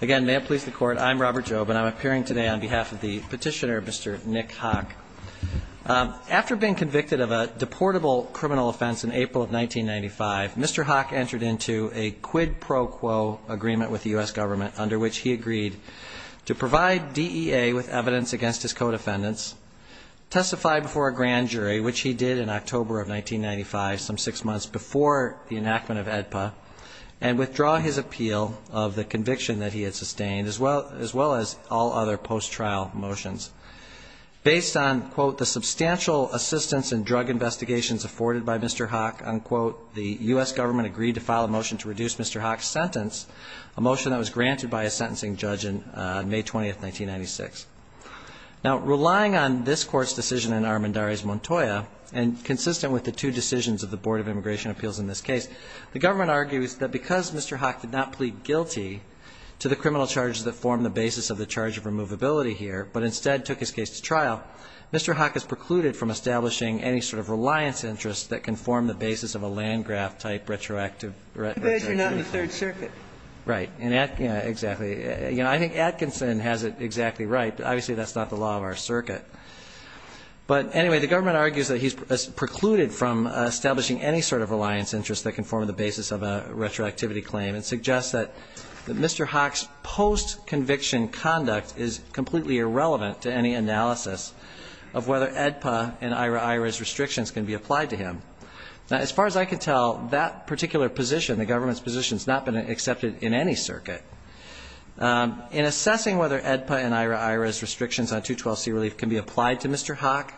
Again, may it please the court, I'm Robert Jobe and I'm appearing today on behalf of the petitioner, Mr. Nick Haque. After being convicted of a deportable criminal offense in April of 1995, Mr. Haque entered into a quid pro quo agreement with the U.S. government under which he agreed to provide DEA with evidence against his co-defendants, testify before a grand jury, which he did in October of 1995, some six months before the enactment of AEDPA, and withdraw his appeal of the conviction that he had sustained, as well as all other post-trial motions. Based on, quote, the substantial assistance in drug investigations afforded by Mr. Haque, unquote, the U.S. government agreed to file a motion to reduce Mr. Haque's sentence, a motion that was granted by a sentencing judge on May 20, 1996. Now, relying on this court's decision in Armendariz Montoya, and consistent with the two decisions of the Board of Immigration Appeals in this case, the government argues that because Mr. Haque did not plead guilty to the criminal charges that form the basis of the charge of removability here, but instead took his case to trial, Mr. Haque is precluded from establishing any sort of reliance interest that can form the basis of a Landgraf-type retroactive. As long as you're not in the Third Circuit. Right. Exactly. You know, I think Atkinson has it exactly right. Obviously, that's not the law of our circuit. But anyway, the government argues that he's precluded from establishing any sort of reliance interest that can form the basis of a retroactivity claim, and suggests that Mr. Haque's post-conviction conduct is completely irrelevant to any analysis of whether AEDPA and IRA-IRA's restrictions can be applied to him. Now, as far as I can tell, that particular position, the government's position, has not been accepted in any circuit. In assessing whether AEDPA and IRA-IRA's restrictions on 212C relief can be applied to Mr. Haque,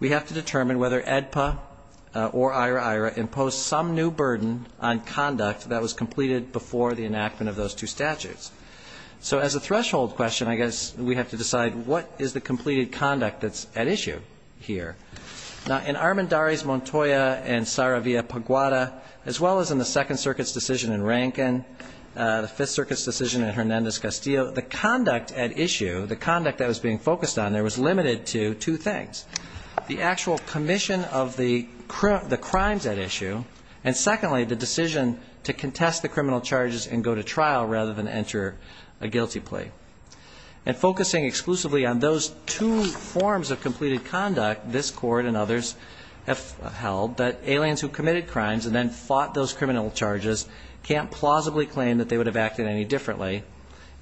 we have to determine whether AEDPA or IRA-IRA impose some new burden on conduct that was completed before the enactment of those two statutes. So as a threshold question, I guess we have to decide what is the completed conduct that's at issue here. Now, in Armendariz-Montoya and Saravia-Paguada, as well as in the Second Circuit's decision in Rankin, the Fifth Circuit's decision in Hernandez-Castillo, the conduct at issue, the conduct that was being focused on there was limited to two things. The actual commission of the crimes at issue, and secondly, the decision to contest the criminal charges and go to trial rather than enter a guilty plea. And focusing exclusively on those two forms of completed conduct, this Court and others have held that aliens who committed crimes and then fought those criminal charges can't plausibly claim that they would have acted any differently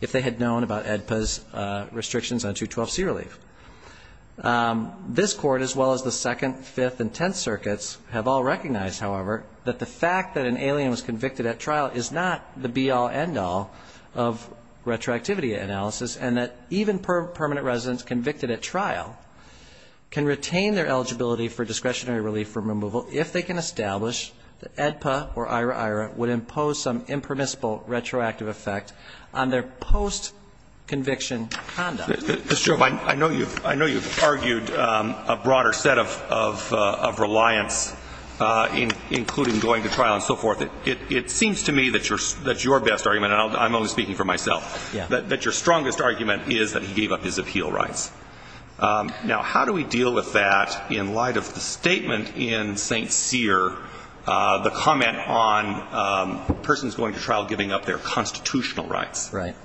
if they had known about AEDPA's restrictions on 212C relief. This Court, as well as the Second, Fifth, and Tenth Circuits have all recognized, however, that the fact that an alien was convicted at trial is not the be-all, end-all of retroactivity analysis, and that even permanent residents convicted at trial can retain their eligibility for discretionary relief from removal if they can establish that AEDPA or IRA-IRA would impose some impermissible retroactive effect on their post-conviction conduct. Mr. Shrove, I know you've argued a broader set of reliance, including going to trial and so forth. It seems to me that your best argument, and I'm only speaking for myself, that your strongest argument is that he gave up his appeal rights. Now, how do we deal with that in light of the statement in St. Cyr, the comment on persons going to trial giving up their constitutional rights? Right.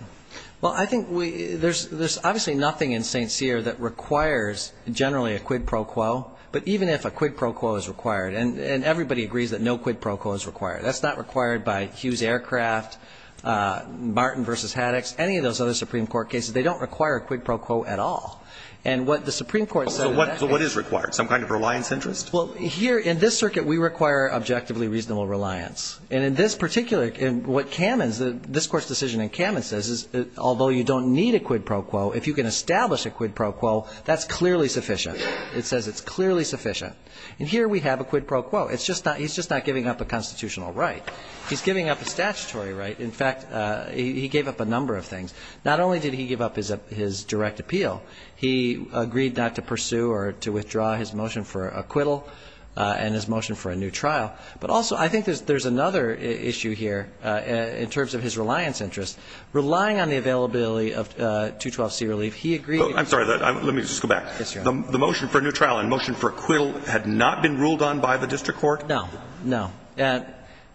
Well, I think there's obviously nothing in St. Cyr that requires generally a quid pro quo, but even if a quid pro quo is required, and everybody agrees that no quid pro quo is required. That's not required by Hughes Aircraft, Martin v. Haddox, any of those other Supreme Court cases. They don't require a quid pro quo at all. And what the Supreme Court said in that case. So what is required? Some kind of reliance interest? Well, here in this circuit, we require objectively reasonable reliance. And in this particular, what Kamen's, this Court's decision in Kamen says is although you don't need a quid pro quo, if you can establish a quid pro quo, that's clearly sufficient. It says it's clearly sufficient. And here we have a quid pro quo. It's just not, he's just not giving up a constitutional right. He's giving up a statutory right. In fact, he gave up a number of things. Not only did he give up his direct appeal, he agreed not to pursue or to withdraw his motion for acquittal and his motion for a new trial. But also I think there's another issue here in terms of his reliance interest. Relying on the availability of 212C relief, he agreed. I'm sorry. Let me just go back. Yes, Your Honor. The motion for a new trial and motion for acquittal had not been ruled on by the district court? No. No.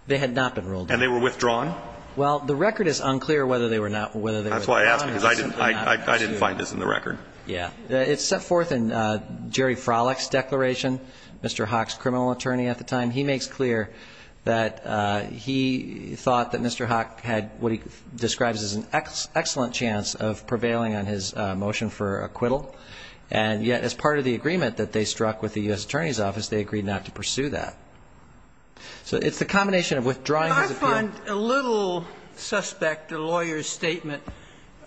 They had not been ruled on. And they were withdrawn? Well, the record is unclear whether they were not, whether they were withdrawn. That's why I asked, because I didn't find this in the record. Yeah. It's set forth in Jerry Frolick's declaration, Mr. Haack's criminal attorney at the time. He makes clear that he thought that Mr. Haack had what he describes as an excellent chance of prevailing on his motion for acquittal. And yet as part of the agreement that they struck with the U.S. Attorney's Office, they agreed not to pursue that. So it's the combination of withdrawing his appeal. And a little suspect, a lawyer's statement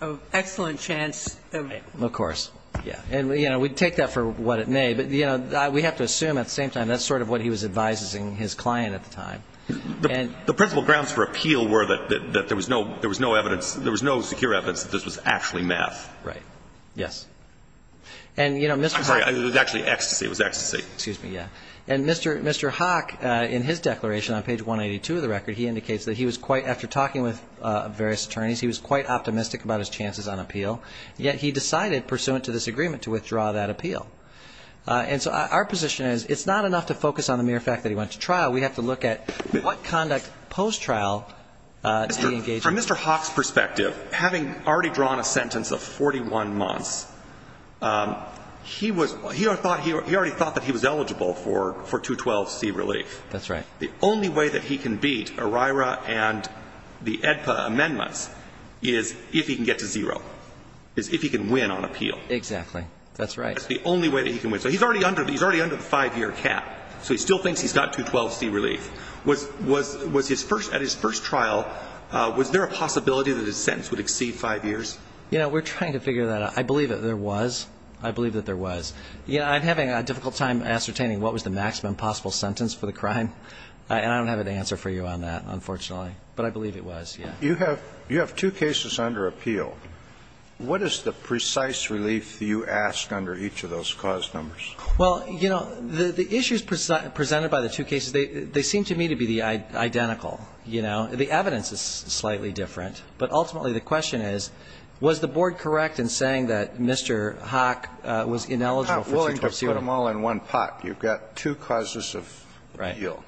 of excellent chance of prevailing. Of course. Yeah. And, you know, we take that for what it may. But, you know, we have to assume at the same time that's sort of what he was advising his client at the time. The principal grounds for appeal were that there was no evidence, there was no secure evidence that this was actually math. Right. Yes. And, you know, Mr. Haack. I'm sorry. It was actually ecstasy. It was ecstasy. Excuse me. Yeah. And Mr. Haack, in his declaration on page 182 of the record, he indicates that he was quite, after talking with various attorneys, he was quite optimistic about his chances on appeal. Yet he decided pursuant to this agreement to withdraw that appeal. And so our position is it's not enough to focus on the mere fact that he went to trial. We have to look at what conduct post-trial did he engage in. From Mr. Haack's perspective, having already drawn a sentence of 41 months, he was already thought that he was eligible for 212C relief. That's right. The only way that he can beat ERIRA and the AEDPA amendments is if he can get to zero, is if he can win on appeal. Exactly. That's right. That's the only way that he can win. So he's already under the five-year cap. So he still thinks he's got 212C relief. At his first trial, was there a possibility that his sentence would exceed five years? Yeah. We're trying to figure that out. I believe that there was. I believe that there was. I'm having a difficult time ascertaining what was the maximum possible sentence for the crime. And I don't have an answer for you on that, unfortunately. But I believe it was, yeah. You have two cases under appeal. What is the precise relief you ask under each of those cause numbers? Well, you know, the issues presented by the two cases, they seem to me to be the identical, you know. The evidence is slightly different. But ultimately, the question is, was the board correct in saying that Mr. Hock was ineligible for 220? I'm not willing to put them all in one pot. You've got two causes of appeal. Right.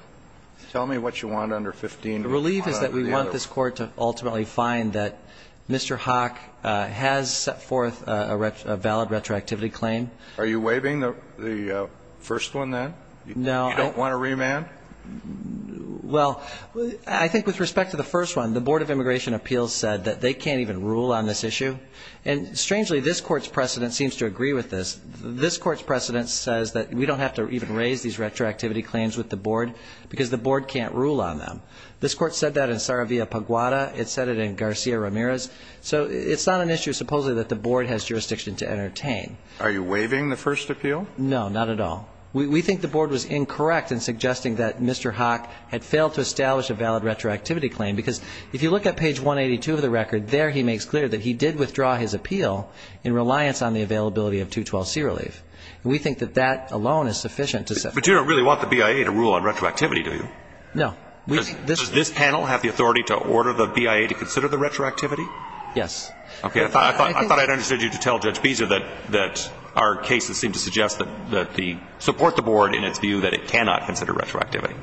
Tell me what you want under 15. The relief is that we want this Court to ultimately find that Mr. Hock has set forth a valid retroactivity claim. Are you waiving the first one, then? No. You don't want a remand? Well, I think with respect to the first one, the Board of Immigration Appeals said that they can't even rule on this issue. And strangely, this Court's precedent seems to agree with this. This Court's precedent says that we don't have to even raise these retroactivity claims with the Board because the Board can't rule on them. This Court said that in Saravia-Paguada. It said it in Garcia-Ramirez. So it's not an issue, supposedly, that the Board has jurisdiction to entertain. Are you waiving the first appeal? No, not at all. We think the Board was incorrect in suggesting that Mr. Hock had failed to establish a valid retroactivity claim, because if you look at page 182 of the record, there he makes clear that he did withdraw his appeal in reliance on the availability of 212C relief. And we think that that alone is sufficient to say. But you don't really want the BIA to rule on retroactivity, do you? No. Does this panel have the authority to order the BIA to consider the retroactivity? Yes. Okay. I thought I'd understood you to tell Judge Beezer that our cases seem to suggest that they support the Board in its view that it cannot consider retroactivity.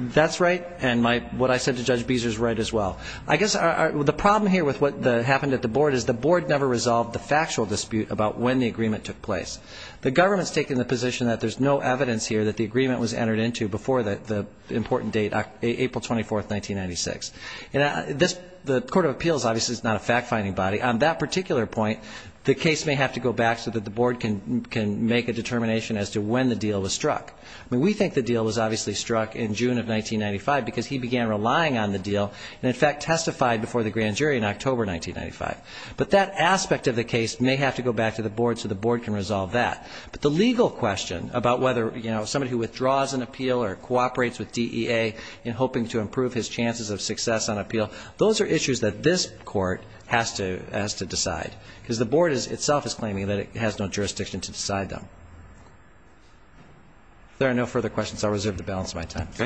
That's right. And what I said to Judge Beezer is right as well. I guess the problem here with what happened at the Board is the Board never resolved the factual dispute about when the agreement took place. The government's taking the position that there's no evidence here that the agreement was entered into before the important date, April 24, 1996. And the Court of Appeals, obviously, is not a fact-finding body. On that particular point, the case may have to go back so that the Board can make a determination as to when the deal was struck. I mean, we think the deal was obviously struck in June of 1995 because he began relying on the deal and, in fact, testified before the grand jury in October 1995. But that aspect of the case may have to go back to the Board so the Board can resolve that. But the legal question about whether, you know, somebody who withdraws an appeal or cooperates with DEA in hoping to improve his chances of success on appeal, those are issues that this Court has to decide because the Board itself is claiming that it has no jurisdiction to decide them. If there are no further questions, I'll reserve the balance of my time. Okay. Ms. Farrier.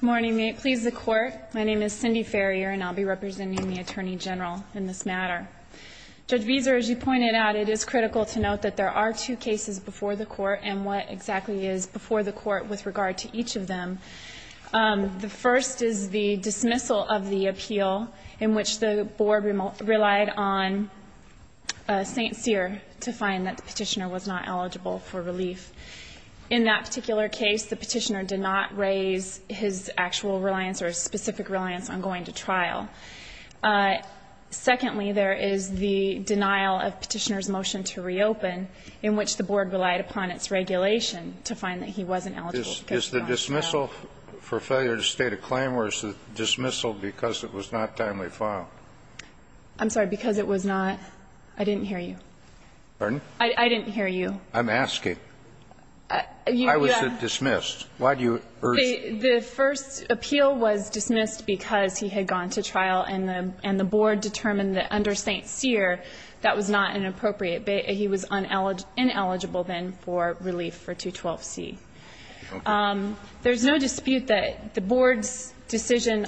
Good morning. May it please the Court. My name is Cindy Farrier, and I'll be representing the Attorney General in this matter. Judge Veazer, as you pointed out, it is critical to note that there are two cases before the Court and what exactly is before the Court with regard to each of them. The first is the dismissal of the appeal in which the Board relied on St. Cyr to find that the Petitioner was not eligible for relief. In that particular case, the Petitioner did not raise his actual reliance or his specific reliance on going to trial. Secondly, there is the denial of Petitioner's motion to reopen in which the Board relied upon its regulation to find that he wasn't eligible to go to trial. Is the dismissal for failure to state a claim or is the dismissal because it was not timely filed? I'm sorry. Because it was not. I didn't hear you. Pardon? I didn't hear you. I'm asking. I was dismissed. Why do you urge? The first appeal was dismissed because he had gone to trial and the Board determined that under St. Cyr that was not inappropriate. He was ineligible then for relief for 212C. There's no dispute that the Board's decision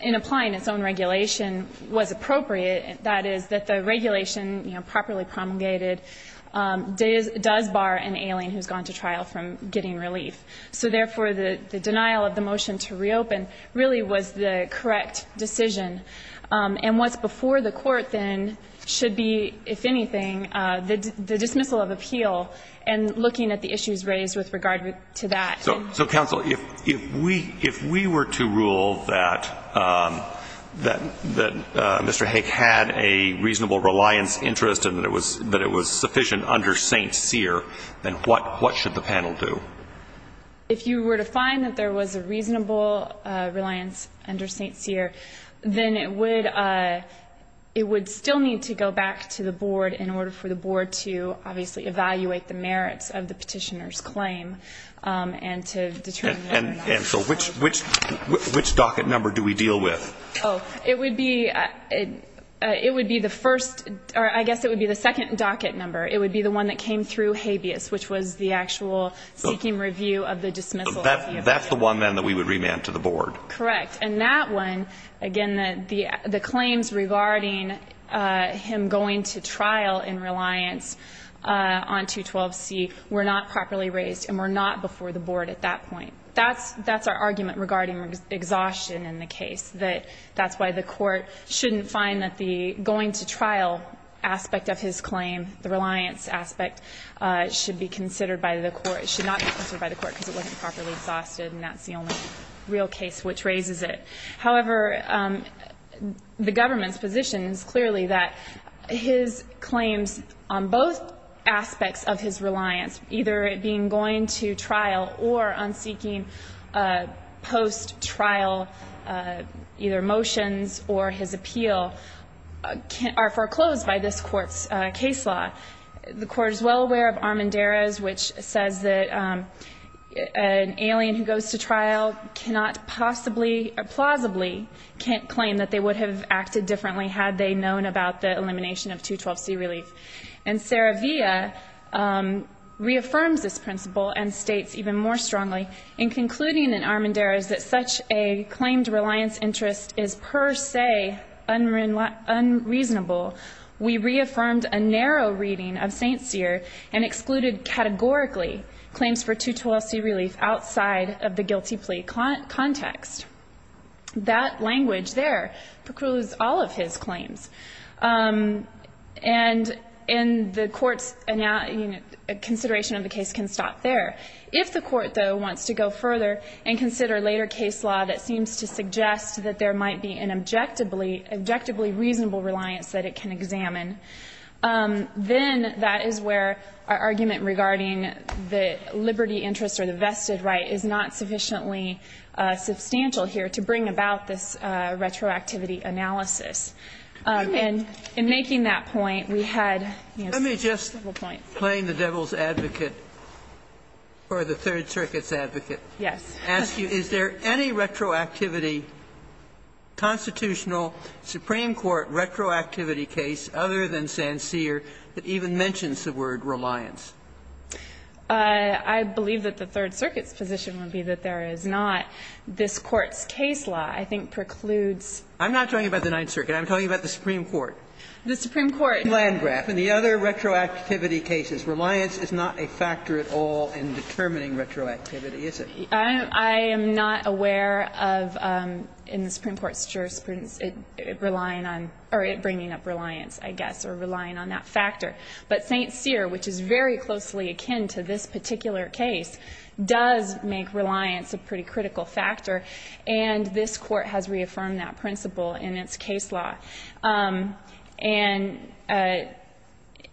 in applying its own regulation was appropriate, that is, that the regulation, you know, properly promulgated does bar an alien who's gone to trial from getting relief. So, therefore, the denial of the motion to reopen really was the correct decision. And what's before the Court then should be, if anything, the dismissal of appeal and looking at the issues raised with regard to that. So, counsel, if we were to rule that Mr. Haig had a reasonable reliance interest and that it was sufficient under St. Cyr, then what should the panel do? If you were to find that there was a reasonable reliance under St. Cyr, then it would still need to go back to the Board in order for the Board to, obviously, evaluate the merits of the petitioner's claim and to determine whether or not it was appropriate. And so which docket number do we deal with? Oh, it would be the first, or I guess it would be the second docket number. It would be the one that came through habeas, which was the actual seeking review of the dismissal of appeal. That's the one, then, that we would remand to the Board? Correct. And that one, again, the claims regarding him going to trial in reliance on 212C were not properly raised and were not before the Board at that point. That's our argument regarding exhaustion in the case, that that's why the Court shouldn't find that the going to trial aspect of his claim, the reliance aspect, should be considered by the Court. It should not be considered by the Court because it wasn't properly exhausted and that's the only real case which raises it. However, the government's position is clearly that his claims on both aspects of his reliance, either it being going to trial or on seeking post-trial either motions or his appeal, are foreclosed by this Court's case law. The Court is well aware of Armendariz, which says that an alien who goes to trial cannot possibly or plausibly claim that they would have acted differently had they known about the elimination of 212C relief. And Saravia reaffirms this principle and states even more strongly, in concluding in Armendariz that such a claimed reliance interest is per se unreasonable, we reaffirmed a narrow reading of St. Cyr and excluded categorically claims for 212C relief outside of the guilty plea context. That language there precludes all of his claims. And the Court's consideration of the case can stop there. If the Court, though, wants to go further and consider later case law that seems to suggest that there might be an objectively reasonable reliance that it can examine, then that is where our argument regarding the liberty interest or the vested right is not sufficiently substantial here to bring about this retroactivity analysis. And in making that point, we had several points. Sotomayor, let me just, playing the devil's advocate or the Third Circuit's position would be that there is not. This Court's case law, I think, precludes. I'm not talking about the Ninth Circuit. I'm talking about the Supreme Court. The Supreme Court. Landgraf and the other retroactivity cases. Reliance is not a factor at all in determining retroactivity, is it? I'm not aware of that. I'm not aware of that. I'm not aware of that. I'm not aware of, in the Supreme Court's jurisprudence, relying on or bringing up reliance, I guess, or relying on that factor. But St. Cyr, which is very closely akin to this particular case, does make reliance a pretty critical factor, and this Court has reaffirmed that principle in its case law. And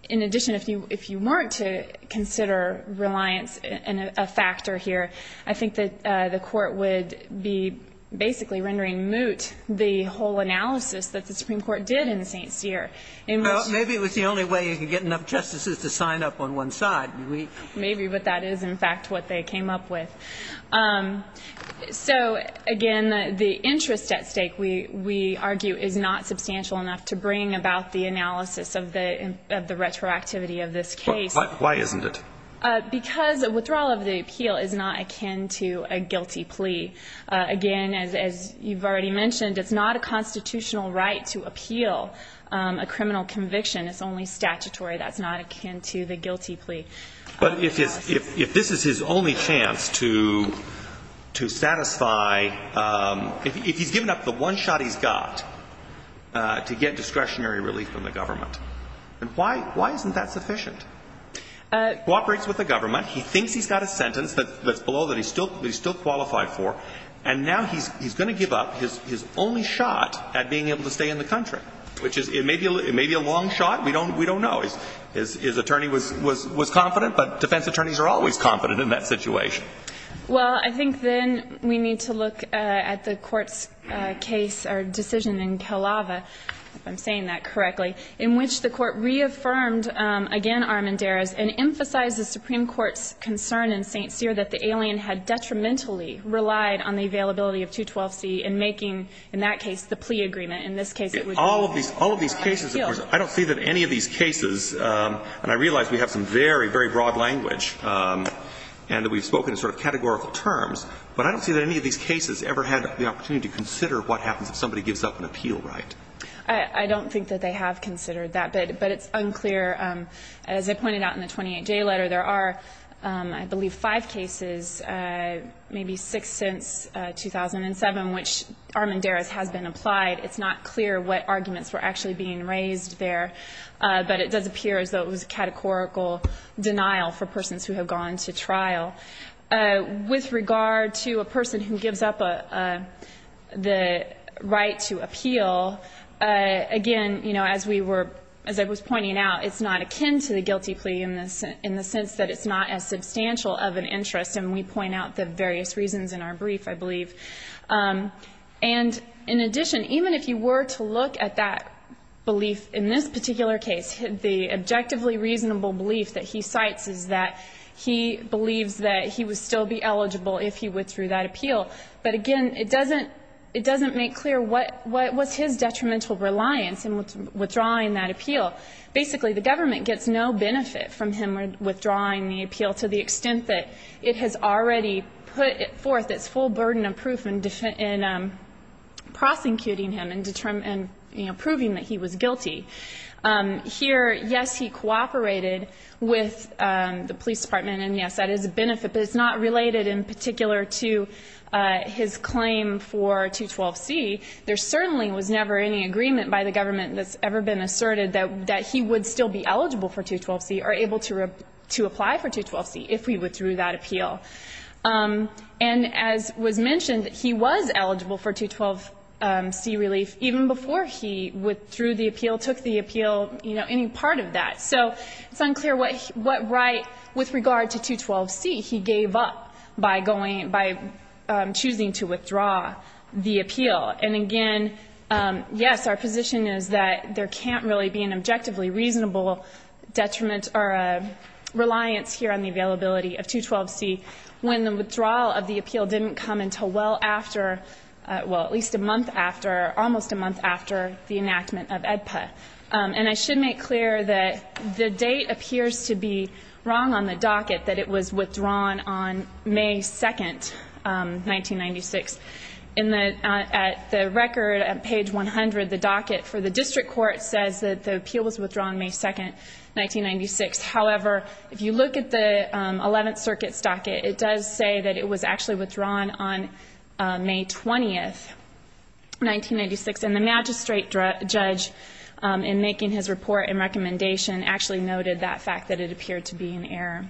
in addition, if you weren't to consider reliance a factor here, I think that the Court would be basically rendering moot the whole analysis that the Supreme Court did in St. Cyr. Maybe it was the only way you could get enough justices to sign up on one side. Maybe. But that is, in fact, what they came up with. So, again, the interest at stake, we argue, is not substantial enough to bring about the analysis of the retroactivity of this case. Why isn't it? Because withdrawal of the appeal is not akin to a guilty plea. Again, as you've already mentioned, it's not a constitutional right to appeal a criminal conviction. It's only statutory. That's not akin to the guilty plea. But if this is his only chance to satisfy, if he's given up the one shot he's got to get discretionary relief from the government, then why isn't that sufficient? He cooperates with the government. He thinks he's got a sentence that's below that he's still qualified for. And now he's going to give up his only shot at being able to stay in the country, which may be a long shot. We don't know. His attorney was confident, but defense attorneys are always confident in that situation. Well, I think then we need to look at the Court's case or decision in Kalaava, if Armandari's, and emphasize the Supreme Court's concern in St. Cyr that the alien had detrimentally relied on the availability of 212C and making, in that case, the plea agreement. In this case it would I don't see that any of these cases and I realize we have some very, very broad language and that we spoke in sort of categorical terms. But I don't see that any of these cases ever had the opportunity to consider what happens if somebody gives up an appeal, right? I don't think that they have considered that, but it's unclear. As I pointed out in the 28J letter, there are, I believe, five cases, maybe six since 2007, which Armandari's has been applied. It's not clear what arguments were actually being raised there, but it does appear as though it was a categorical denial for persons who have gone to trial. With regard to a person who gives up the right to appeal, again, you know, as we were, as I was pointing out, it's not akin to the guilty plea in the sense that it's not as substantial of an interest. And we point out the various reasons in our brief, I believe. And in addition, even if you were to look at that belief in this particular case, the objectively reasonable belief that he cites is that he believes that he would still be eligible if he withdrew that appeal. But again, it doesn't make clear what was his detrimental reliance in withdrawing that appeal. Basically, the government gets no benefit from him withdrawing the appeal to the extent that it has already put forth its full burden of proof in prosecuting him and proving that he was guilty. Here, yes, he cooperated with the police department, and yes, that is a benefit, but it's not related in particular to his claim for 212C. There certainly was never any agreement by the government that's ever been asserted that he would still be eligible for 212C or able to apply for 212C if he withdrew that appeal. And as was mentioned, he was eligible for 212C relief even before he withdrew the appeal, took the appeal, you know, any part of that. So it's unclear what right with regard to 212C he gave up by going by choosing to withdraw the appeal. And again, yes, our position is that there can't really be an objectively reasonable detriment or a reliance here on the availability of 212C when the withdrawal of the appeal didn't come until well after, well, at least a month after, almost a month after the enactment of AEDPA. And I should make clear that the date appears to be wrong on the docket, that it was withdrawn on May 2, 1996. In the record at page 100, the docket for the district court says that the appeal was withdrawn May 2, 1996. However, if you look at the Eleventh Circuit's docket, it does say that it was actually withdrawn on May 20, 1996. And the magistrate judge, in making his report and recommendation, actually noted that fact, that it appeared to be an error.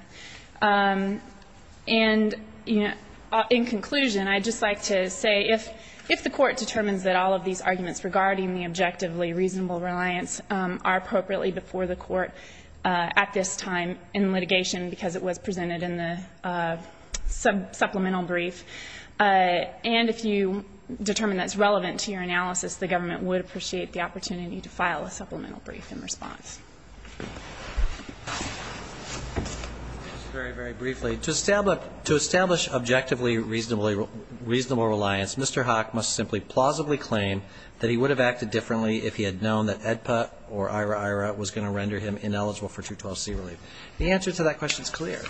And in conclusion, I'd just like to say if the Court determines that all of these arguments regarding the objectively reasonable reliance are appropriately before the Court at this time in litigation because it was presented in the supplemental brief, and if you determine that it's relevant to your analysis, the government would appreciate the opportunity to file a supplemental brief in response. Just very, very briefly, to establish objectively reasonable reliance, Mr. Hock must simply plausibly claim that he would have acted differently if he had known that AEDPA or IRA-IRA was going to render him ineligible for 212C relief. The answer to that question is clear.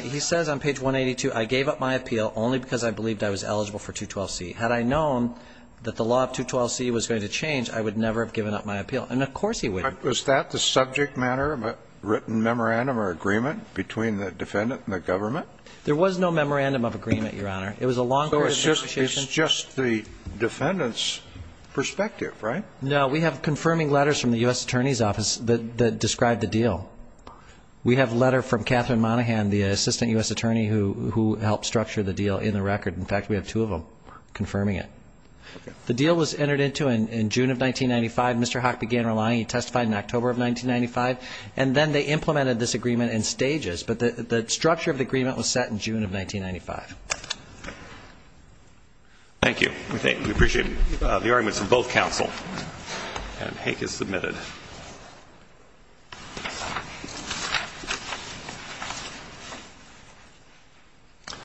He says on page 182, I gave up my appeal only because I believed I was eligible for 212C. Had I known that the law of 212C was going to change, I would never have given up my appeal. And of course he wouldn't. Was that the subject matter of a written memorandum or agreement between the defendant and the government? There was no memorandum of agreement, Your Honor. It was a long period of negotiation. So it's just the defendant's perspective, right? No. We have confirming letters from the U.S. Attorney's Office that describe the deal. We have a letter from Catherine Monaghan, the Assistant U.S. Attorney, who helped structure the deal in the record. In fact, we have two of them confirming it. The deal was entered into in June of 1995. Mr. Hock began relying. He testified in October of 1995. And then they implemented this agreement in stages. But the structure of the agreement was set in June of 1995. Thank you. We appreciate it. The argument is from both counsel. And Hank is submitted. Thank you, Your Honor.